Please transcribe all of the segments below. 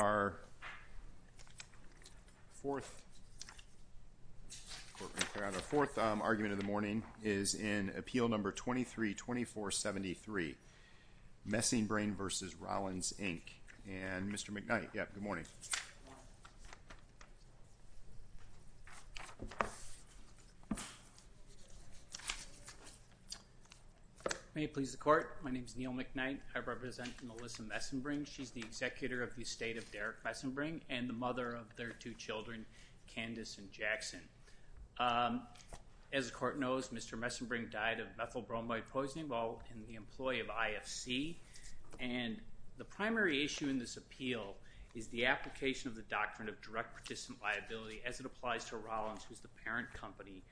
Our fourth argument of the morning is in Appeal 23-2473, Mesenbring v. Rollins, Inc. And Mr. McKnight, yes, good morning. May it please the Court. My name is Neil McKnight. I represent Melissa Mesenbring. She's the executor of the estate of Derek Mesenbring and the mother of their two children, Candace and Jackson. As the Court knows, Mr. Mesenbring died of methylbromide poisoning while in the employee of IFC. And the primary issue in this appeal is the application of the doctrine of direct participant liability as it applies to Rollins, who's the parent company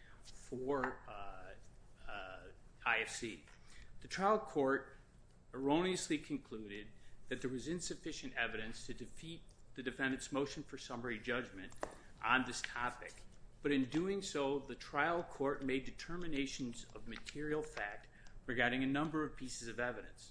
for IFC. The trial court erroneously concluded that there was insufficient evidence to defeat the defendant's motion for summary judgment on this topic. But in doing so, the trial court made determinations of material fact regarding a number of pieces of evidence.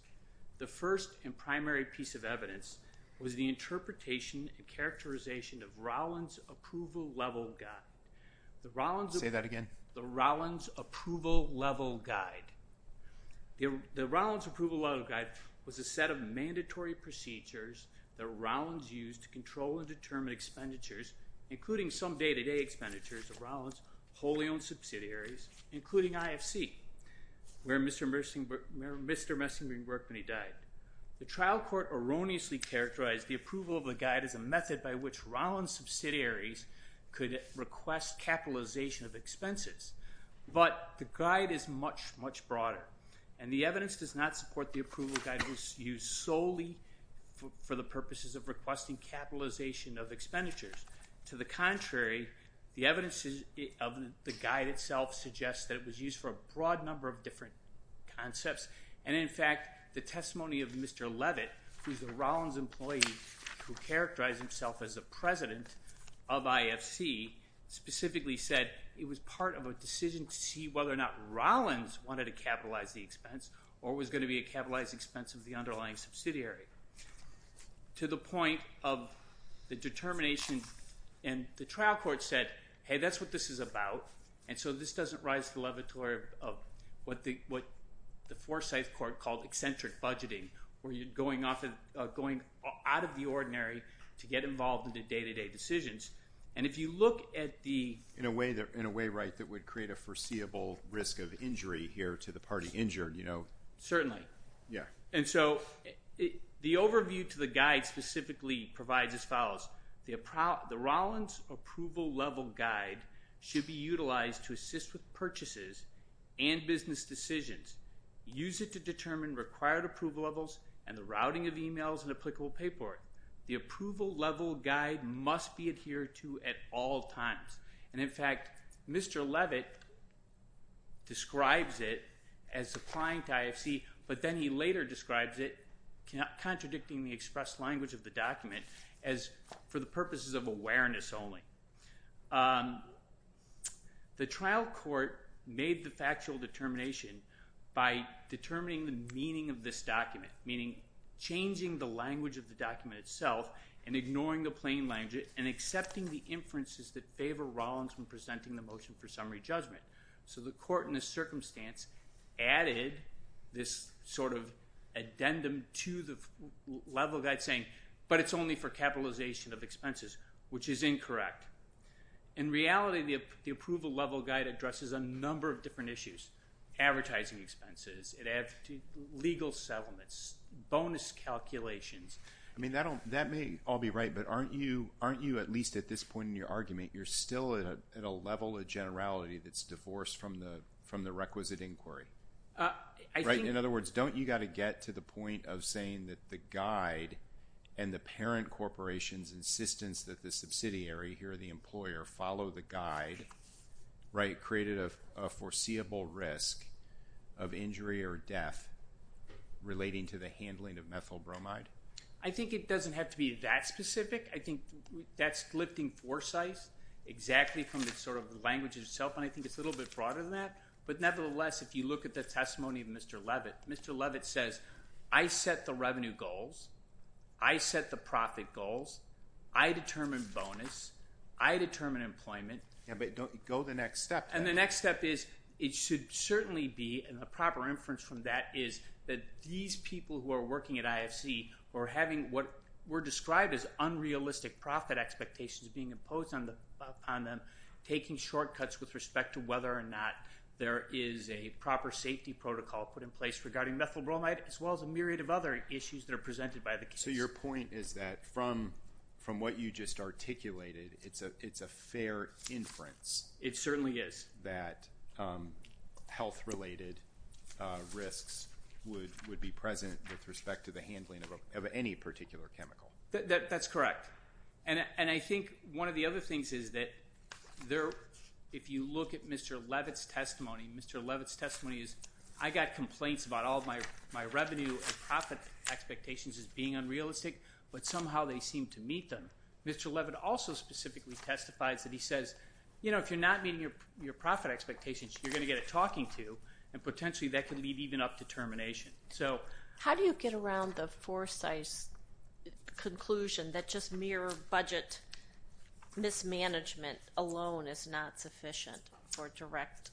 The first and primary piece of evidence was the interpretation and characterization of Rollins' approval level guide. Say that again. The Rollins' approval level guide. The Rollins' approval level guide was a set of mandatory procedures that Rollins used to control and determine expenditures, including some day-to-day expenditures of Rollins' wholly owned subsidiaries, including IFC, where Mr. Mesenbring worked when he died. The trial court erroneously characterized the approval of the guide as a method by which to request capitalization of expenses. But the guide is much, much broader. And the evidence does not support the approval guide was used solely for the purposes of requesting capitalization of expenditures. To the contrary, the evidence of the guide itself suggests that it was used for a broad number of different concepts. And in fact, the testimony of Mr. Levitt, who's a Rollins employee who characterized himself as a president of IFC, specifically said it was part of a decision to see whether or not Rollins wanted to capitalize the expense or was going to be a capitalized expense of the underlying subsidiary. To the point of the determination, and the trial court said, hey, that's what this is about. And so this doesn't rise to the levatory of what the Forsyth court called eccentric budgeting, where you're going out of the ordinary to get involved in the day-to-day decisions. And if you look at the- In a way, right, that would create a foreseeable risk of injury here to the party injured, you know- Certainly. Yeah. And so the overview to the guide specifically provides as follows. The Rollins approval level guide should be utilized to assist with purchases and business decisions. Use it to determine required approval levels and the routing of emails and applicable paperwork. The approval level guide must be adhered to at all times. And in fact, Mr. Levitt describes it as applying to IFC, but then he later describes it, contradicting the express language of the document, as for the purposes of awareness only. The trial court made the factual determination by determining the meaning of this document, meaning changing the language of the document itself and ignoring the plain language and accepting the inferences that favor Rollins when presenting the motion for summary judgment. So the court, in this circumstance, added this sort of addendum to the level guide saying, but it's only for capitalization of expenses, which is incorrect. In reality, the approval level guide addresses a number of different issues. Advertising expenses, it adds to legal settlements, bonus calculations. I mean, that may all be right, but aren't you, at least at this point in your argument, you're still at a level of generality that's divorced from the requisite inquiry? I think- And the parent corporation's insistence that the subsidiary, here the employer, follow the guide, right, created a foreseeable risk of injury or death relating to the handling of methyl bromide. I think it doesn't have to be that specific. I think that's lifting foresight exactly from the sort of language itself, and I think it's a little bit broader than that. But nevertheless, if you look at the testimony of Mr. Levitt, Mr. Levitt says, I set the profit goals, I determine bonus, I determine employment- Yeah, but go the next step. And the next step is, it should certainly be, and the proper inference from that is that these people who are working at IFC, who are having what were described as unrealistic profit expectations being imposed on them, taking shortcuts with respect to whether or not there is a proper safety protocol put in place regarding methyl bromide, as well as a myriad of other issues that are presented by the case. So your point is that from what you just articulated, it's a fair inference- It certainly is. That health-related risks would be present with respect to the handling of any particular chemical. That's correct. And I think one of the other things is that if you look at Mr. Levitt's testimony, Mr. expectations as being unrealistic, but somehow they seem to meet them, Mr. Levitt also specifically testifies that he says, you know, if you're not meeting your profit expectations, you're going to get a talking to, and potentially that can lead even up to termination. So- How do you get around the Forsyth's conclusion that just mere budget mismanagement alone is not sufficient for direct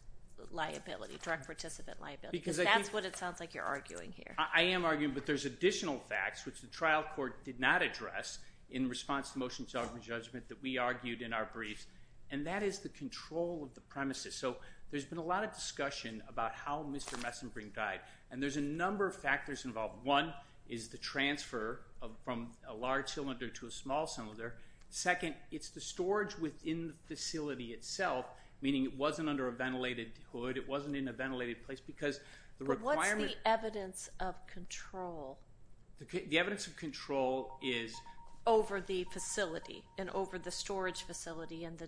liability, direct participant liability? Because that's what it sounds like you're arguing here. I am arguing, but there's additional facts, which the trial court did not address in response to motion to argument and judgment that we argued in our briefs, and that is the control of the premises. So there's been a lot of discussion about how Mr. Messenbrink died, and there's a number of factors involved. One is the transfer from a large cylinder to a small cylinder. Second, it's the storage within the facility itself, meaning it wasn't under a ventilated hood, it wasn't in a ventilated place, because the requirement- The evidence of control. The evidence of control is- Over the facility, and over the storage facility, and the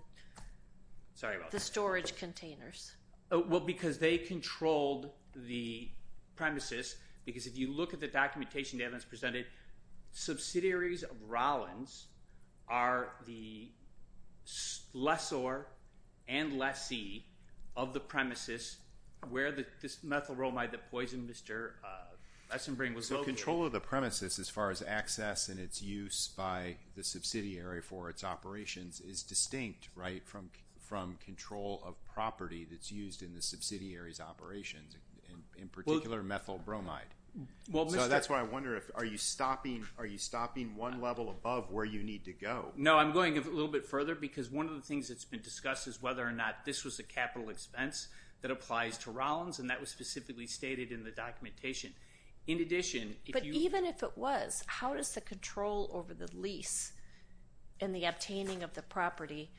storage containers. Well, because they controlled the premises, because if you look at the documentation the evidence presented, subsidiaries of Rollins are the lessor and lessee of the premises where this methyl bromide that poisoned Mr. Messenbrink was located. So control of the premises as far as access and its use by the subsidiary for its operations is distinct, right, from control of property that's used in the subsidiary's operations, in particular methyl bromide. So that's why I wonder, are you stopping one level above where you need to go? No, I'm going a little bit further, because one of the things that's been discussed is whether or not this was a capital expense that applies to Rollins, and that was specifically stated in the documentation. In addition, if you- But even if it was, how does the control over the lease and the obtaining of the property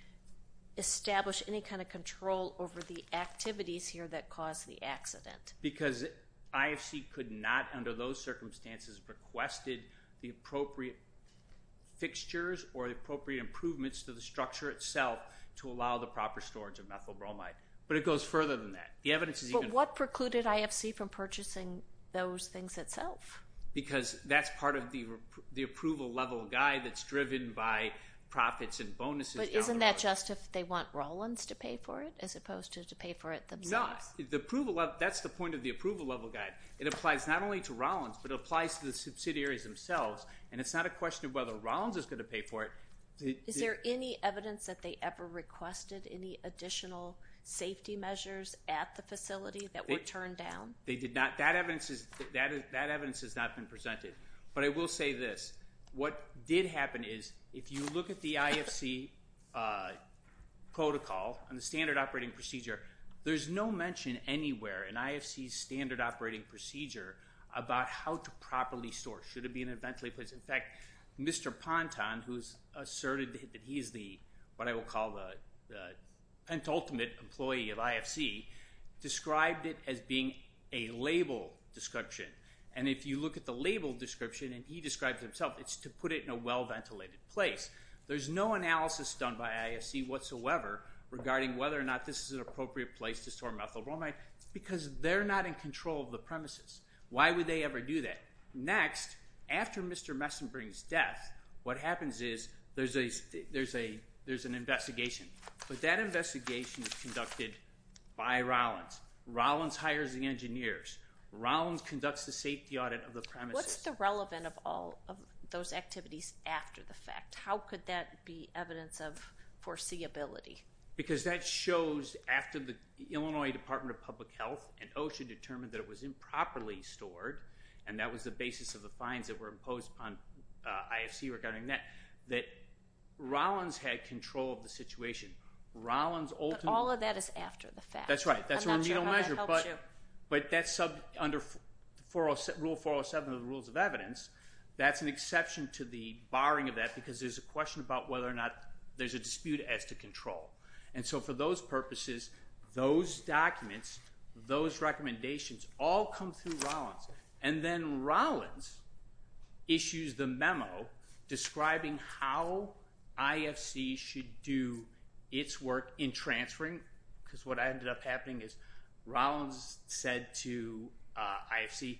establish any kind of control over the activities here that caused the accident? Because IFC could not, under those circumstances, requested the appropriate fixtures or the proper storage of methyl bromide. But it goes further than that. The evidence is even- But what precluded IFC from purchasing those things itself? Because that's part of the approval level guide that's driven by profits and bonuses down the road. But isn't that just if they want Rollins to pay for it, as opposed to to pay for it themselves? No. The approval level, that's the point of the approval level guide. It applies not only to Rollins, but it applies to the subsidiaries themselves, and it's not a question of whether Rollins is going to pay for it. Is there any evidence that they ever requested any additional safety measures at the facility that were turned down? They did not. That evidence has not been presented. But I will say this. What did happen is, if you look at the IFC protocol and the standard operating procedure, there's no mention anywhere in IFC's standard operating procedure about how to properly store it. Should it be in a ventilated place? In fact, Mr. Ponton, who's asserted that he's the, what I will call the penultimate employee of IFC, described it as being a label description. And if you look at the label description, and he describes it himself, it's to put it in a well-ventilated place. There's no analysis done by IFC whatsoever regarding whether or not this is an appropriate place to store methyl bromide, because they're not in control of the premises. Why would they ever do that? Next, after Mr. Messin brings death, what happens is, there's an investigation. But that investigation is conducted by Rollins. Rollins hires the engineers. Rollins conducts the safety audit of the premises. What's the relevant of all of those activities after the fact? How could that be evidence of foreseeability? Because that shows, after the Illinois Department of Public Health and OSHA determined that it was improperly stored, and that was the basis of the fines that were imposed on IFC regarding that, that Rollins had control of the situation. Rollins ultimately- But all of that is after the fact. That's right. That's a remedial measure. I'm not sure how that helps you. But that's under Rule 407 of the Rules of Evidence. That's an exception to the barring of that, because there's a question about whether or not there's a dispute as to control. And so, for those purposes, those documents, those recommendations, all come through Rollins. And then Rollins issues the memo describing how IFC should do its work in transferring, because what ended up happening is, Rollins said to IFC,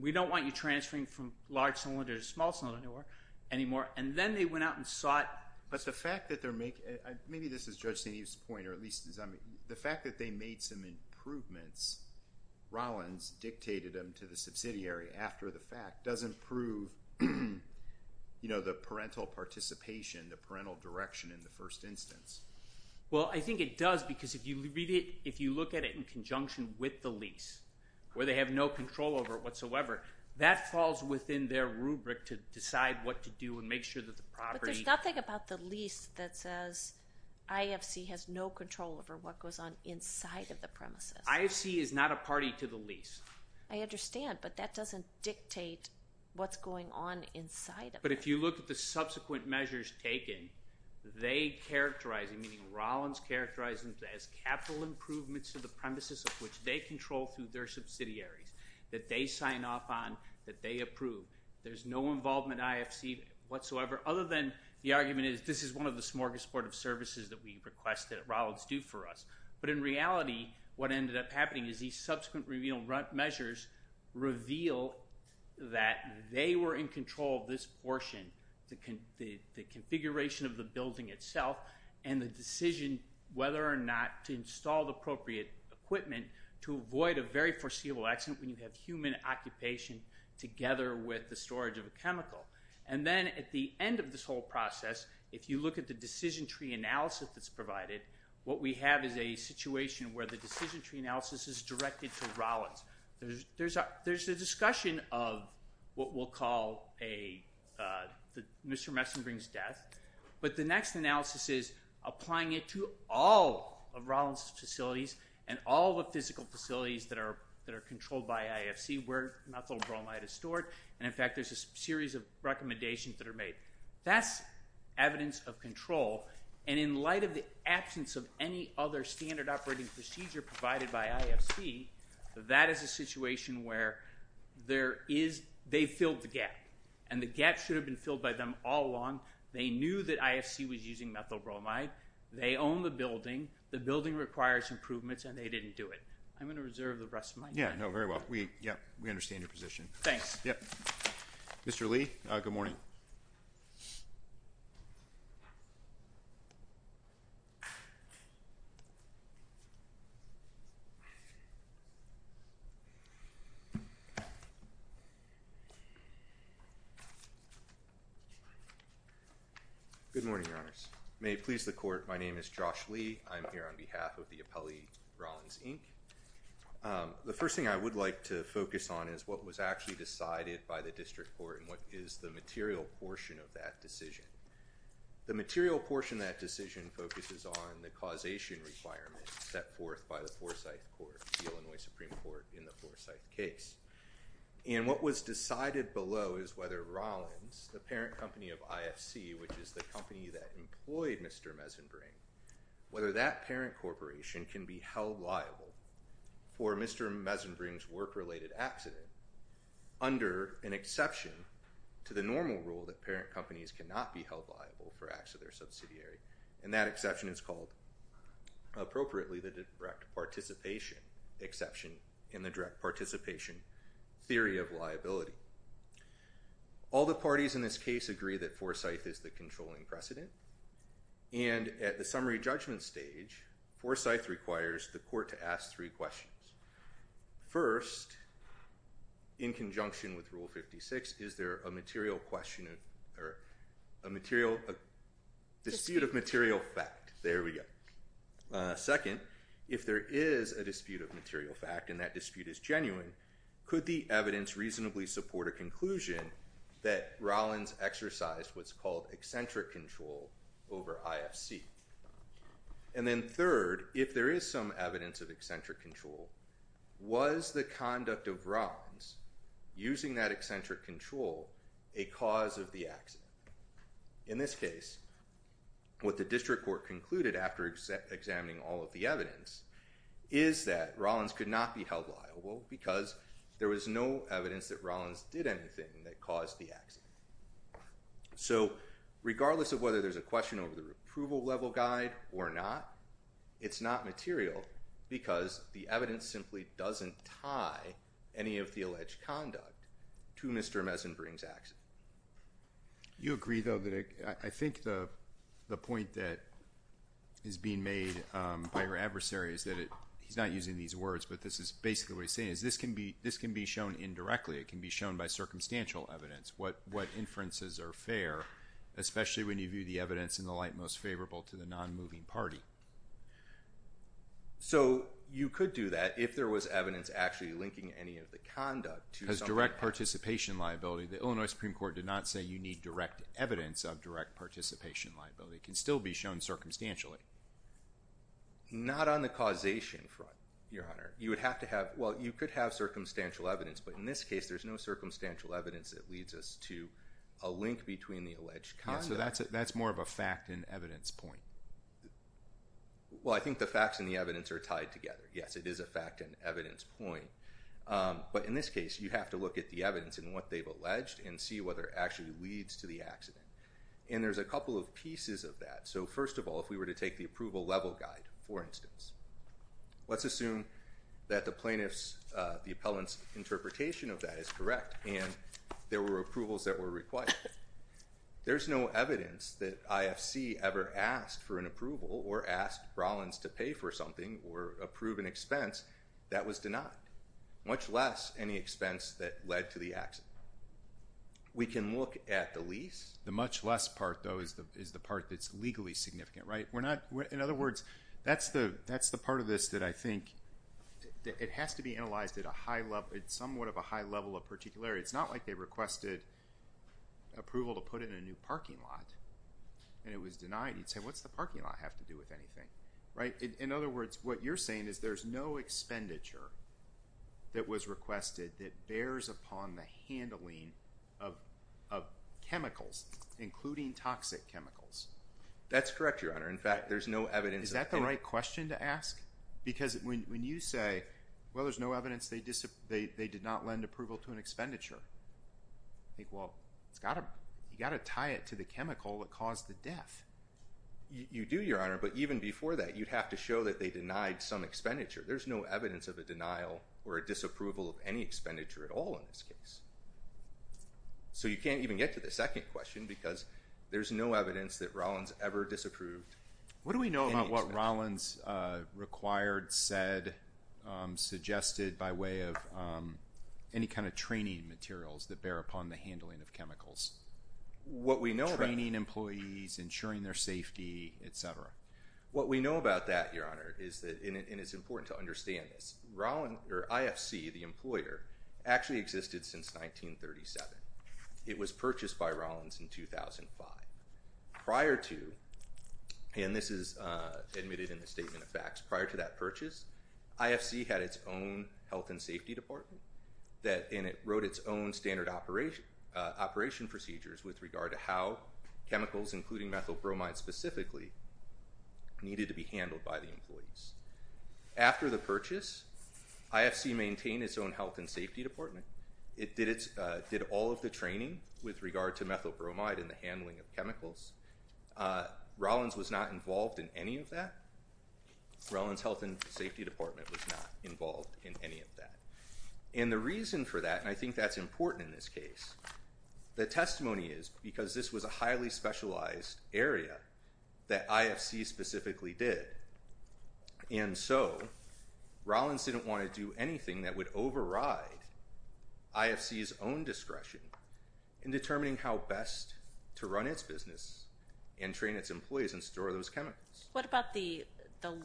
we don't want you transferring from large cylinder to small cylinder anymore. And then they went out and sought- Maybe this is Judge St. Eve's point, or at least it's on me. The fact that they made some improvements, Rollins dictated them to the subsidiary after the fact, doesn't prove, you know, the parental participation, the parental direction in the first instance. Well, I think it does, because if you read it, if you look at it in conjunction with the lease, where they have no control over it whatsoever, that falls within their rubric to decide what to do and make sure that the property- IFC has no control over what goes on inside of the premises. IFC is not a party to the lease. I understand, but that doesn't dictate what's going on inside of it. But if you look at the subsequent measures taken, they characterize, meaning Rollins characterized them as capital improvements to the premises of which they control through their subsidiaries, that they sign off on, that they approve. There's no involvement in IFC whatsoever, other than the argument is, this is one of the smorgasbord of services that we request that Rollins do for us. But in reality, what ended up happening is these subsequent revealed measures reveal that they were in control of this portion, the configuration of the building itself, and the decision whether or not to install the appropriate equipment to avoid a very foreseeable accident when you have human occupation together with the storage of a chemical. And then at the end of this whole process, if you look at the decision tree analysis that's provided, what we have is a situation where the decision tree analysis is directed to Rollins. There's a discussion of what we'll call Mr. Messonbrink's death, but the next analysis is applying it to all of Rollins' facilities and all the physical facilities that are controlled by IFC where methyl bromide is stored, and in fact there's a series of recommendations that are made. That's evidence of control, and in light of the absence of any other standard operating procedure provided by IFC, that is a situation where they filled the gap, and the gap should have been filled by them all along. They knew that IFC was using methyl bromide. They own the building. The building requires improvements, and they didn't do it. I'm going to reserve the rest of my time. Yeah, no, very well. We understand your position. Thanks. Yep. Mr. Lee, good morning. Good morning, Your Honors. May it please the Court, my name is Josh Lee. I'm here on behalf of the Appellee Rollins, Inc. The first thing I would like to focus on is what was actually decided by the District Court and what is the material portion of that decision. The material portion of that decision focuses on the causation requirement set forth by the Forsyth Court, the Illinois Supreme Court, in the Forsyth case, and what was decided below is whether Rollins, the parent company of IFC, which is the company that employed Mr. Meisenbring, whether that parent corporation can be held liable for Mr. Meisenbring's work-related accident under an exception to the normal rule that parent companies cannot be held liable for acts of their subsidiary, and that exception is called, appropriately, the direct participation exception in the direct participation theory of liability. All the parties in this case agree that Forsyth is the controlling precedent, and at the summary judgment stage, Forsyth requires the Court to ask three questions. First, in conjunction with Rule 56, is there a dispute of material fact? There we go. Second, if there is a dispute of material fact and that dispute is genuine, could the Court of Conclusion that Rollins exercised what's called eccentric control over IFC? And then third, if there is some evidence of eccentric control, was the conduct of Rollins using that eccentric control a cause of the accident? In this case, what the District Court concluded after examining all of the evidence is that there is no evidence that Rollins did anything that caused the accident. So regardless of whether there's a question over the Approval Level Guide or not, it's not material because the evidence simply doesn't tie any of the alleged conduct to Mr. Meisenbring's accident. You agree, though, that I think the point that is being made by your adversary is that he's not using these words, but this is basically what he's saying, is this can be shown indirectly. It can be shown by circumstantial evidence. What inferences are fair, especially when you view the evidence in the light most favorable to the non-moving party? So you could do that if there was evidence actually linking any of the conduct to something that happened. As direct participation liability, the Illinois Supreme Court did not say you need direct evidence of direct participation liability. It can still be shown circumstantially. Not on the causation front, Your Honor. You would have to have, well, you could have circumstantial evidence, but in this case there's no circumstantial evidence that leads us to a link between the alleged conduct. So that's more of a fact and evidence point. Well, I think the facts and the evidence are tied together. Yes, it is a fact and evidence point. But in this case, you have to look at the evidence and what they've alleged and see whether it actually leads to the accident. And there's a couple of pieces of that. So first of all, if we were to take the approval level guide, for instance, let's assume that the plaintiff's, the appellant's interpretation of that is correct and there were approvals that were required. There's no evidence that IFC ever asked for an approval or asked Rollins to pay for something or approve an expense that was denied, much less any expense that led to the accident. We can look at the lease. The much less part, though, is the part that's legally significant, right? In other words, that's the part of this that I think, it has to be analyzed at a high level, somewhat of a high level of particularity. It's not like they requested approval to put in a new parking lot and it was denied. You'd say, what's the parking lot have to do with anything, right? In other words, what you're saying is there's no expenditure that was requested that bears upon the handling of chemicals, including toxic chemicals. That's correct, Your Honor. In fact, there's no evidence. Is that the right question to ask? Because when you say, well, there's no evidence they did not lend approval to an expenditure, I think, well, you've got to tie it to the chemical that caused the death. You do, Your Honor, but even before that, you'd have to show that they denied some expenditure. There's no evidence of a denial or a disapproval of any expenditure at all in this case. So you can't even get to the second question because there's no evidence that Rollins ever disapproved any expenditure. What do we know about what Rollins required, said, suggested by way of any kind of training materials that bear upon the handling of chemicals? What we know about that. Training employees, ensuring their safety, et cetera. What we know about that, Your Honor, is that, and it's important to understand this, IFC, the employer, actually existed since 1937. It was purchased by Rollins in 2005. Prior to, and this is admitted in the statement of facts, prior to that purchase, IFC had its own health and safety department, and it wrote its own standard operation procedures with regard to how chemicals, including methyl bromide specifically, needed to be handled by the employees. After the purchase, IFC maintained its own health and safety department. It did all of the training with regard to methyl bromide and the handling of chemicals. Rollins was not involved in any of that. Rollins Health and Safety Department was not involved in any of that. And the reason for that, and I think that's important in this case, the testimony is because this was a highly specialized area that IFC specifically did. And so, Rollins didn't want to do anything that would override IFC's own discretion in determining how best to run its business and train its employees and store those chemicals. What about the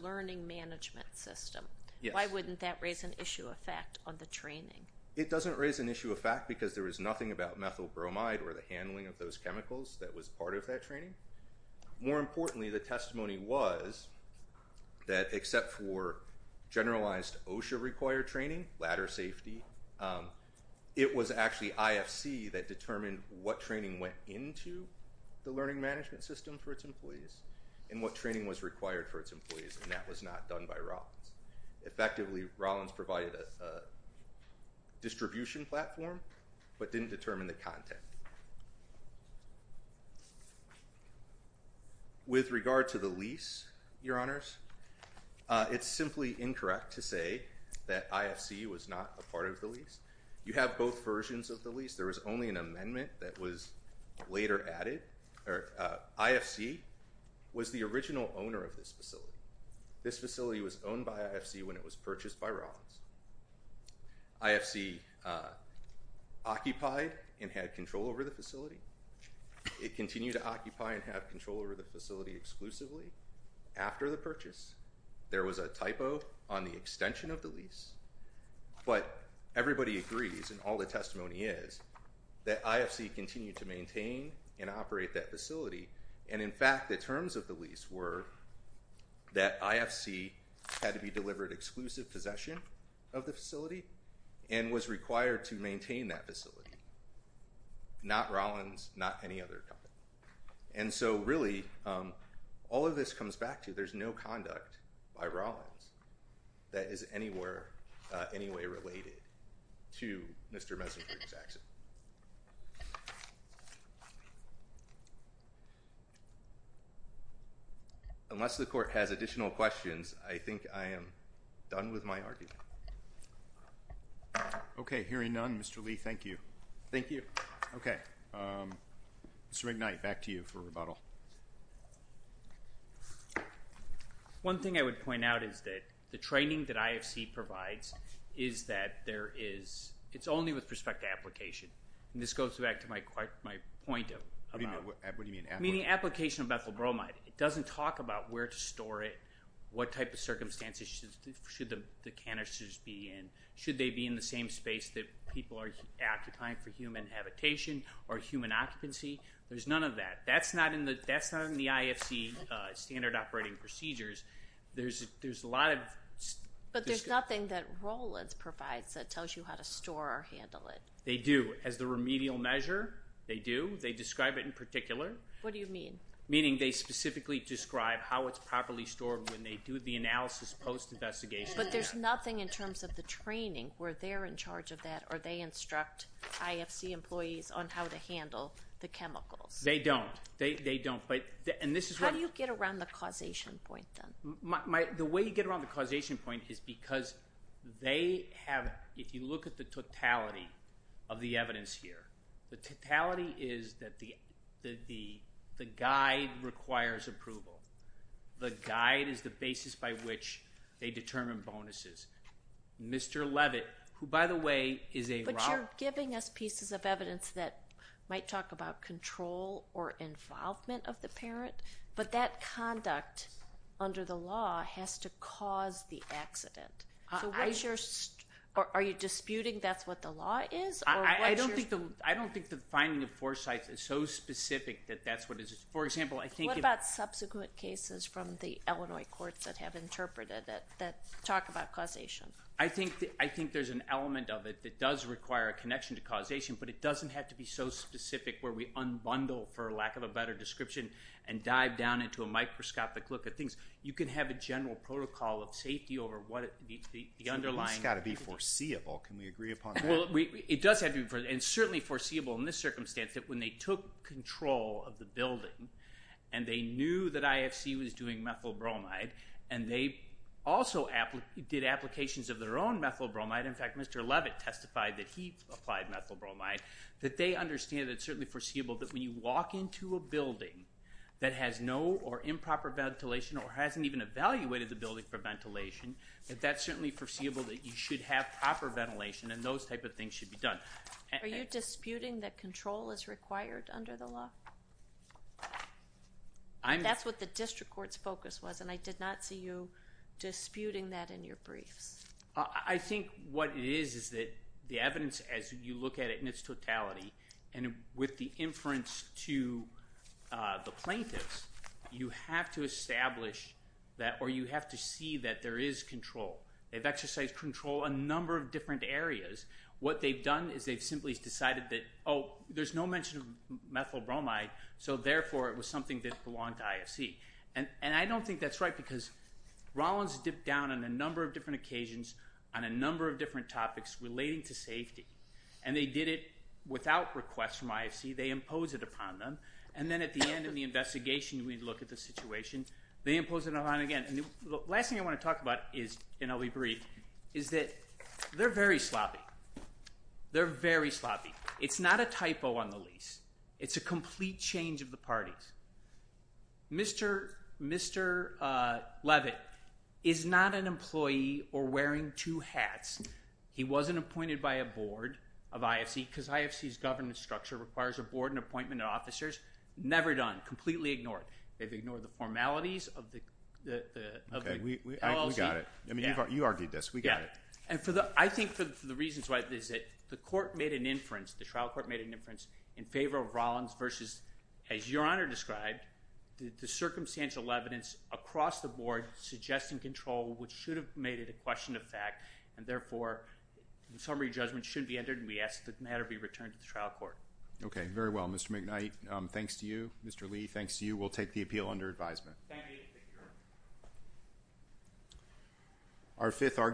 learning management system? Yes. Why wouldn't that raise an issue of fact on the training? It doesn't raise an issue of fact because there was nothing about methyl bromide or the handling of those chemicals that was part of that training. More importantly, the testimony was that except for generalized OSHA-required training, ladder safety, it was actually IFC that determined what training went into the learning management system for its employees and what training was required for its employees, and that was not done by Rollins. Effectively, Rollins provided a distribution platform but didn't determine the content. With regard to the lease, Your Honors, it's simply incorrect to say that IFC was not a part of the lease. You have both versions of the lease. There was only an amendment that was later added. IFC was the original owner of this facility. This facility was owned by IFC when it was purchased by Rollins. IFC occupied and had control over the facility. It continued to occupy and have control over the facility exclusively. After the purchase, there was a typo on the extension of the lease. But everybody agrees, and all the testimony is, that IFC continued to maintain and operate that facility, and in fact, the terms of the lease were that IFC had to be delivered exclusive possession of the facility and was required to maintain that facility. Not Rollins, not any other company. And so really, all of this comes back to there's no conduct by Rollins that is anywhere, any way related to Mr. Mesenger's accident. Unless the court has additional questions, I think I am done with my argument. Okay. Hearing none, Mr. Lee, thank you. Thank you. Okay. Mr. McKnight, back to you for rebuttal. One thing I would point out is that the training that IFC provides is that there is, it's only with respect to application. And this goes back to my point about... What do you mean? Meaning application of methyl bromide. It doesn't talk about where to store it, what type of circumstances should the canisters be in. Should they be in the same space that people are occupying for human habitation or human occupancy? There's none of that. That's not in the IFC standard operating procedures. There's a lot of... But there's nothing that Rollins provides that tells you how to store or handle it. They do. As the remedial measure, they do. They describe it in particular. What do you mean? Meaning they specifically describe how it's properly stored when they do the analysis post-investigation. But there's nothing in terms of the training where they're in charge of that or they instruct IFC employees on how to handle the chemicals. They don't. They don't. And this is... How do you get around the causation point then? The way you get around the causation point is because they have, if you look at the totality of the evidence here, the totality is that the guide requires approval. The guide is the basis by which they determine bonuses. Mr. Levitt, who by the way is a... But you're giving us pieces of evidence that might talk about control or involvement of the parent. But that conduct under the law has to cause the accident. Are you disputing that's what the law is? I don't think the finding of Forsyth is so specific that that's what it is. For example, I think... What about subsequent cases from the Illinois courts that have interpreted it that talk about causation? I think there's an element of it that does require a connection to causation, but it and dive down into a microscopic look at things. You can have a general protocol of safety over what the underlying... It's got to be foreseeable. Can we agree upon that? It does have to be foreseeable. And certainly foreseeable in this circumstance that when they took control of the building and they knew that IFC was doing methyl bromide and they also did applications of their own methyl bromide. In fact, Mr. Levitt testified that he applied methyl bromide. That they understand it's certainly foreseeable that when you walk into a building that has no or improper ventilation or hasn't even evaluated the building for ventilation, that that's certainly foreseeable that you should have proper ventilation and those type of things should be done. Are you disputing that control is required under the law? That's what the district court's focus was and I did not see you disputing that in your briefs. I think what it is is that the evidence as you look at it in its totality and with the inference to the plaintiffs, you have to establish that or you have to see that there is control. They've exercised control in a number of different areas. What they've done is they've simply decided that, oh, there's no mention of methyl bromide so therefore it was something that belonged to IFC. I don't think that's right because Rollins dipped down on a number of different occasions on a number of different topics relating to safety and they did it without request from IFC. They imposed it upon them and then at the end of the investigation, we look at the situation, they imposed it upon again. The last thing I want to talk about is, and I'll be brief, is that they're very sloppy. They're very sloppy. It's not a typo on the lease. It's a complete change of the parties. Mr. Leavitt is not an employee or wearing two hats. He wasn't appointed by a board of IFC because IFC's governance structure requires a board and appointment of officers. Never done. Completely ignored. They've ignored the formalities of the LLC. Okay. We got it. I mean, you argued this. We got it. Yeah. And I think for the reasons why is that the court made an inference, the trial court made an inference in favor of Rollins versus, as Your Honor described, the circumstantial evidence across the board suggesting control, which should have made it a question of fact and therefore, the summary judgment should be entered and we ask that the matter be returned to the trial court. Okay. Very well. Mr. McKnight, thanks to you. Mr. Lee, thanks to you. We'll take the appeal under advisement. Our fifth argument.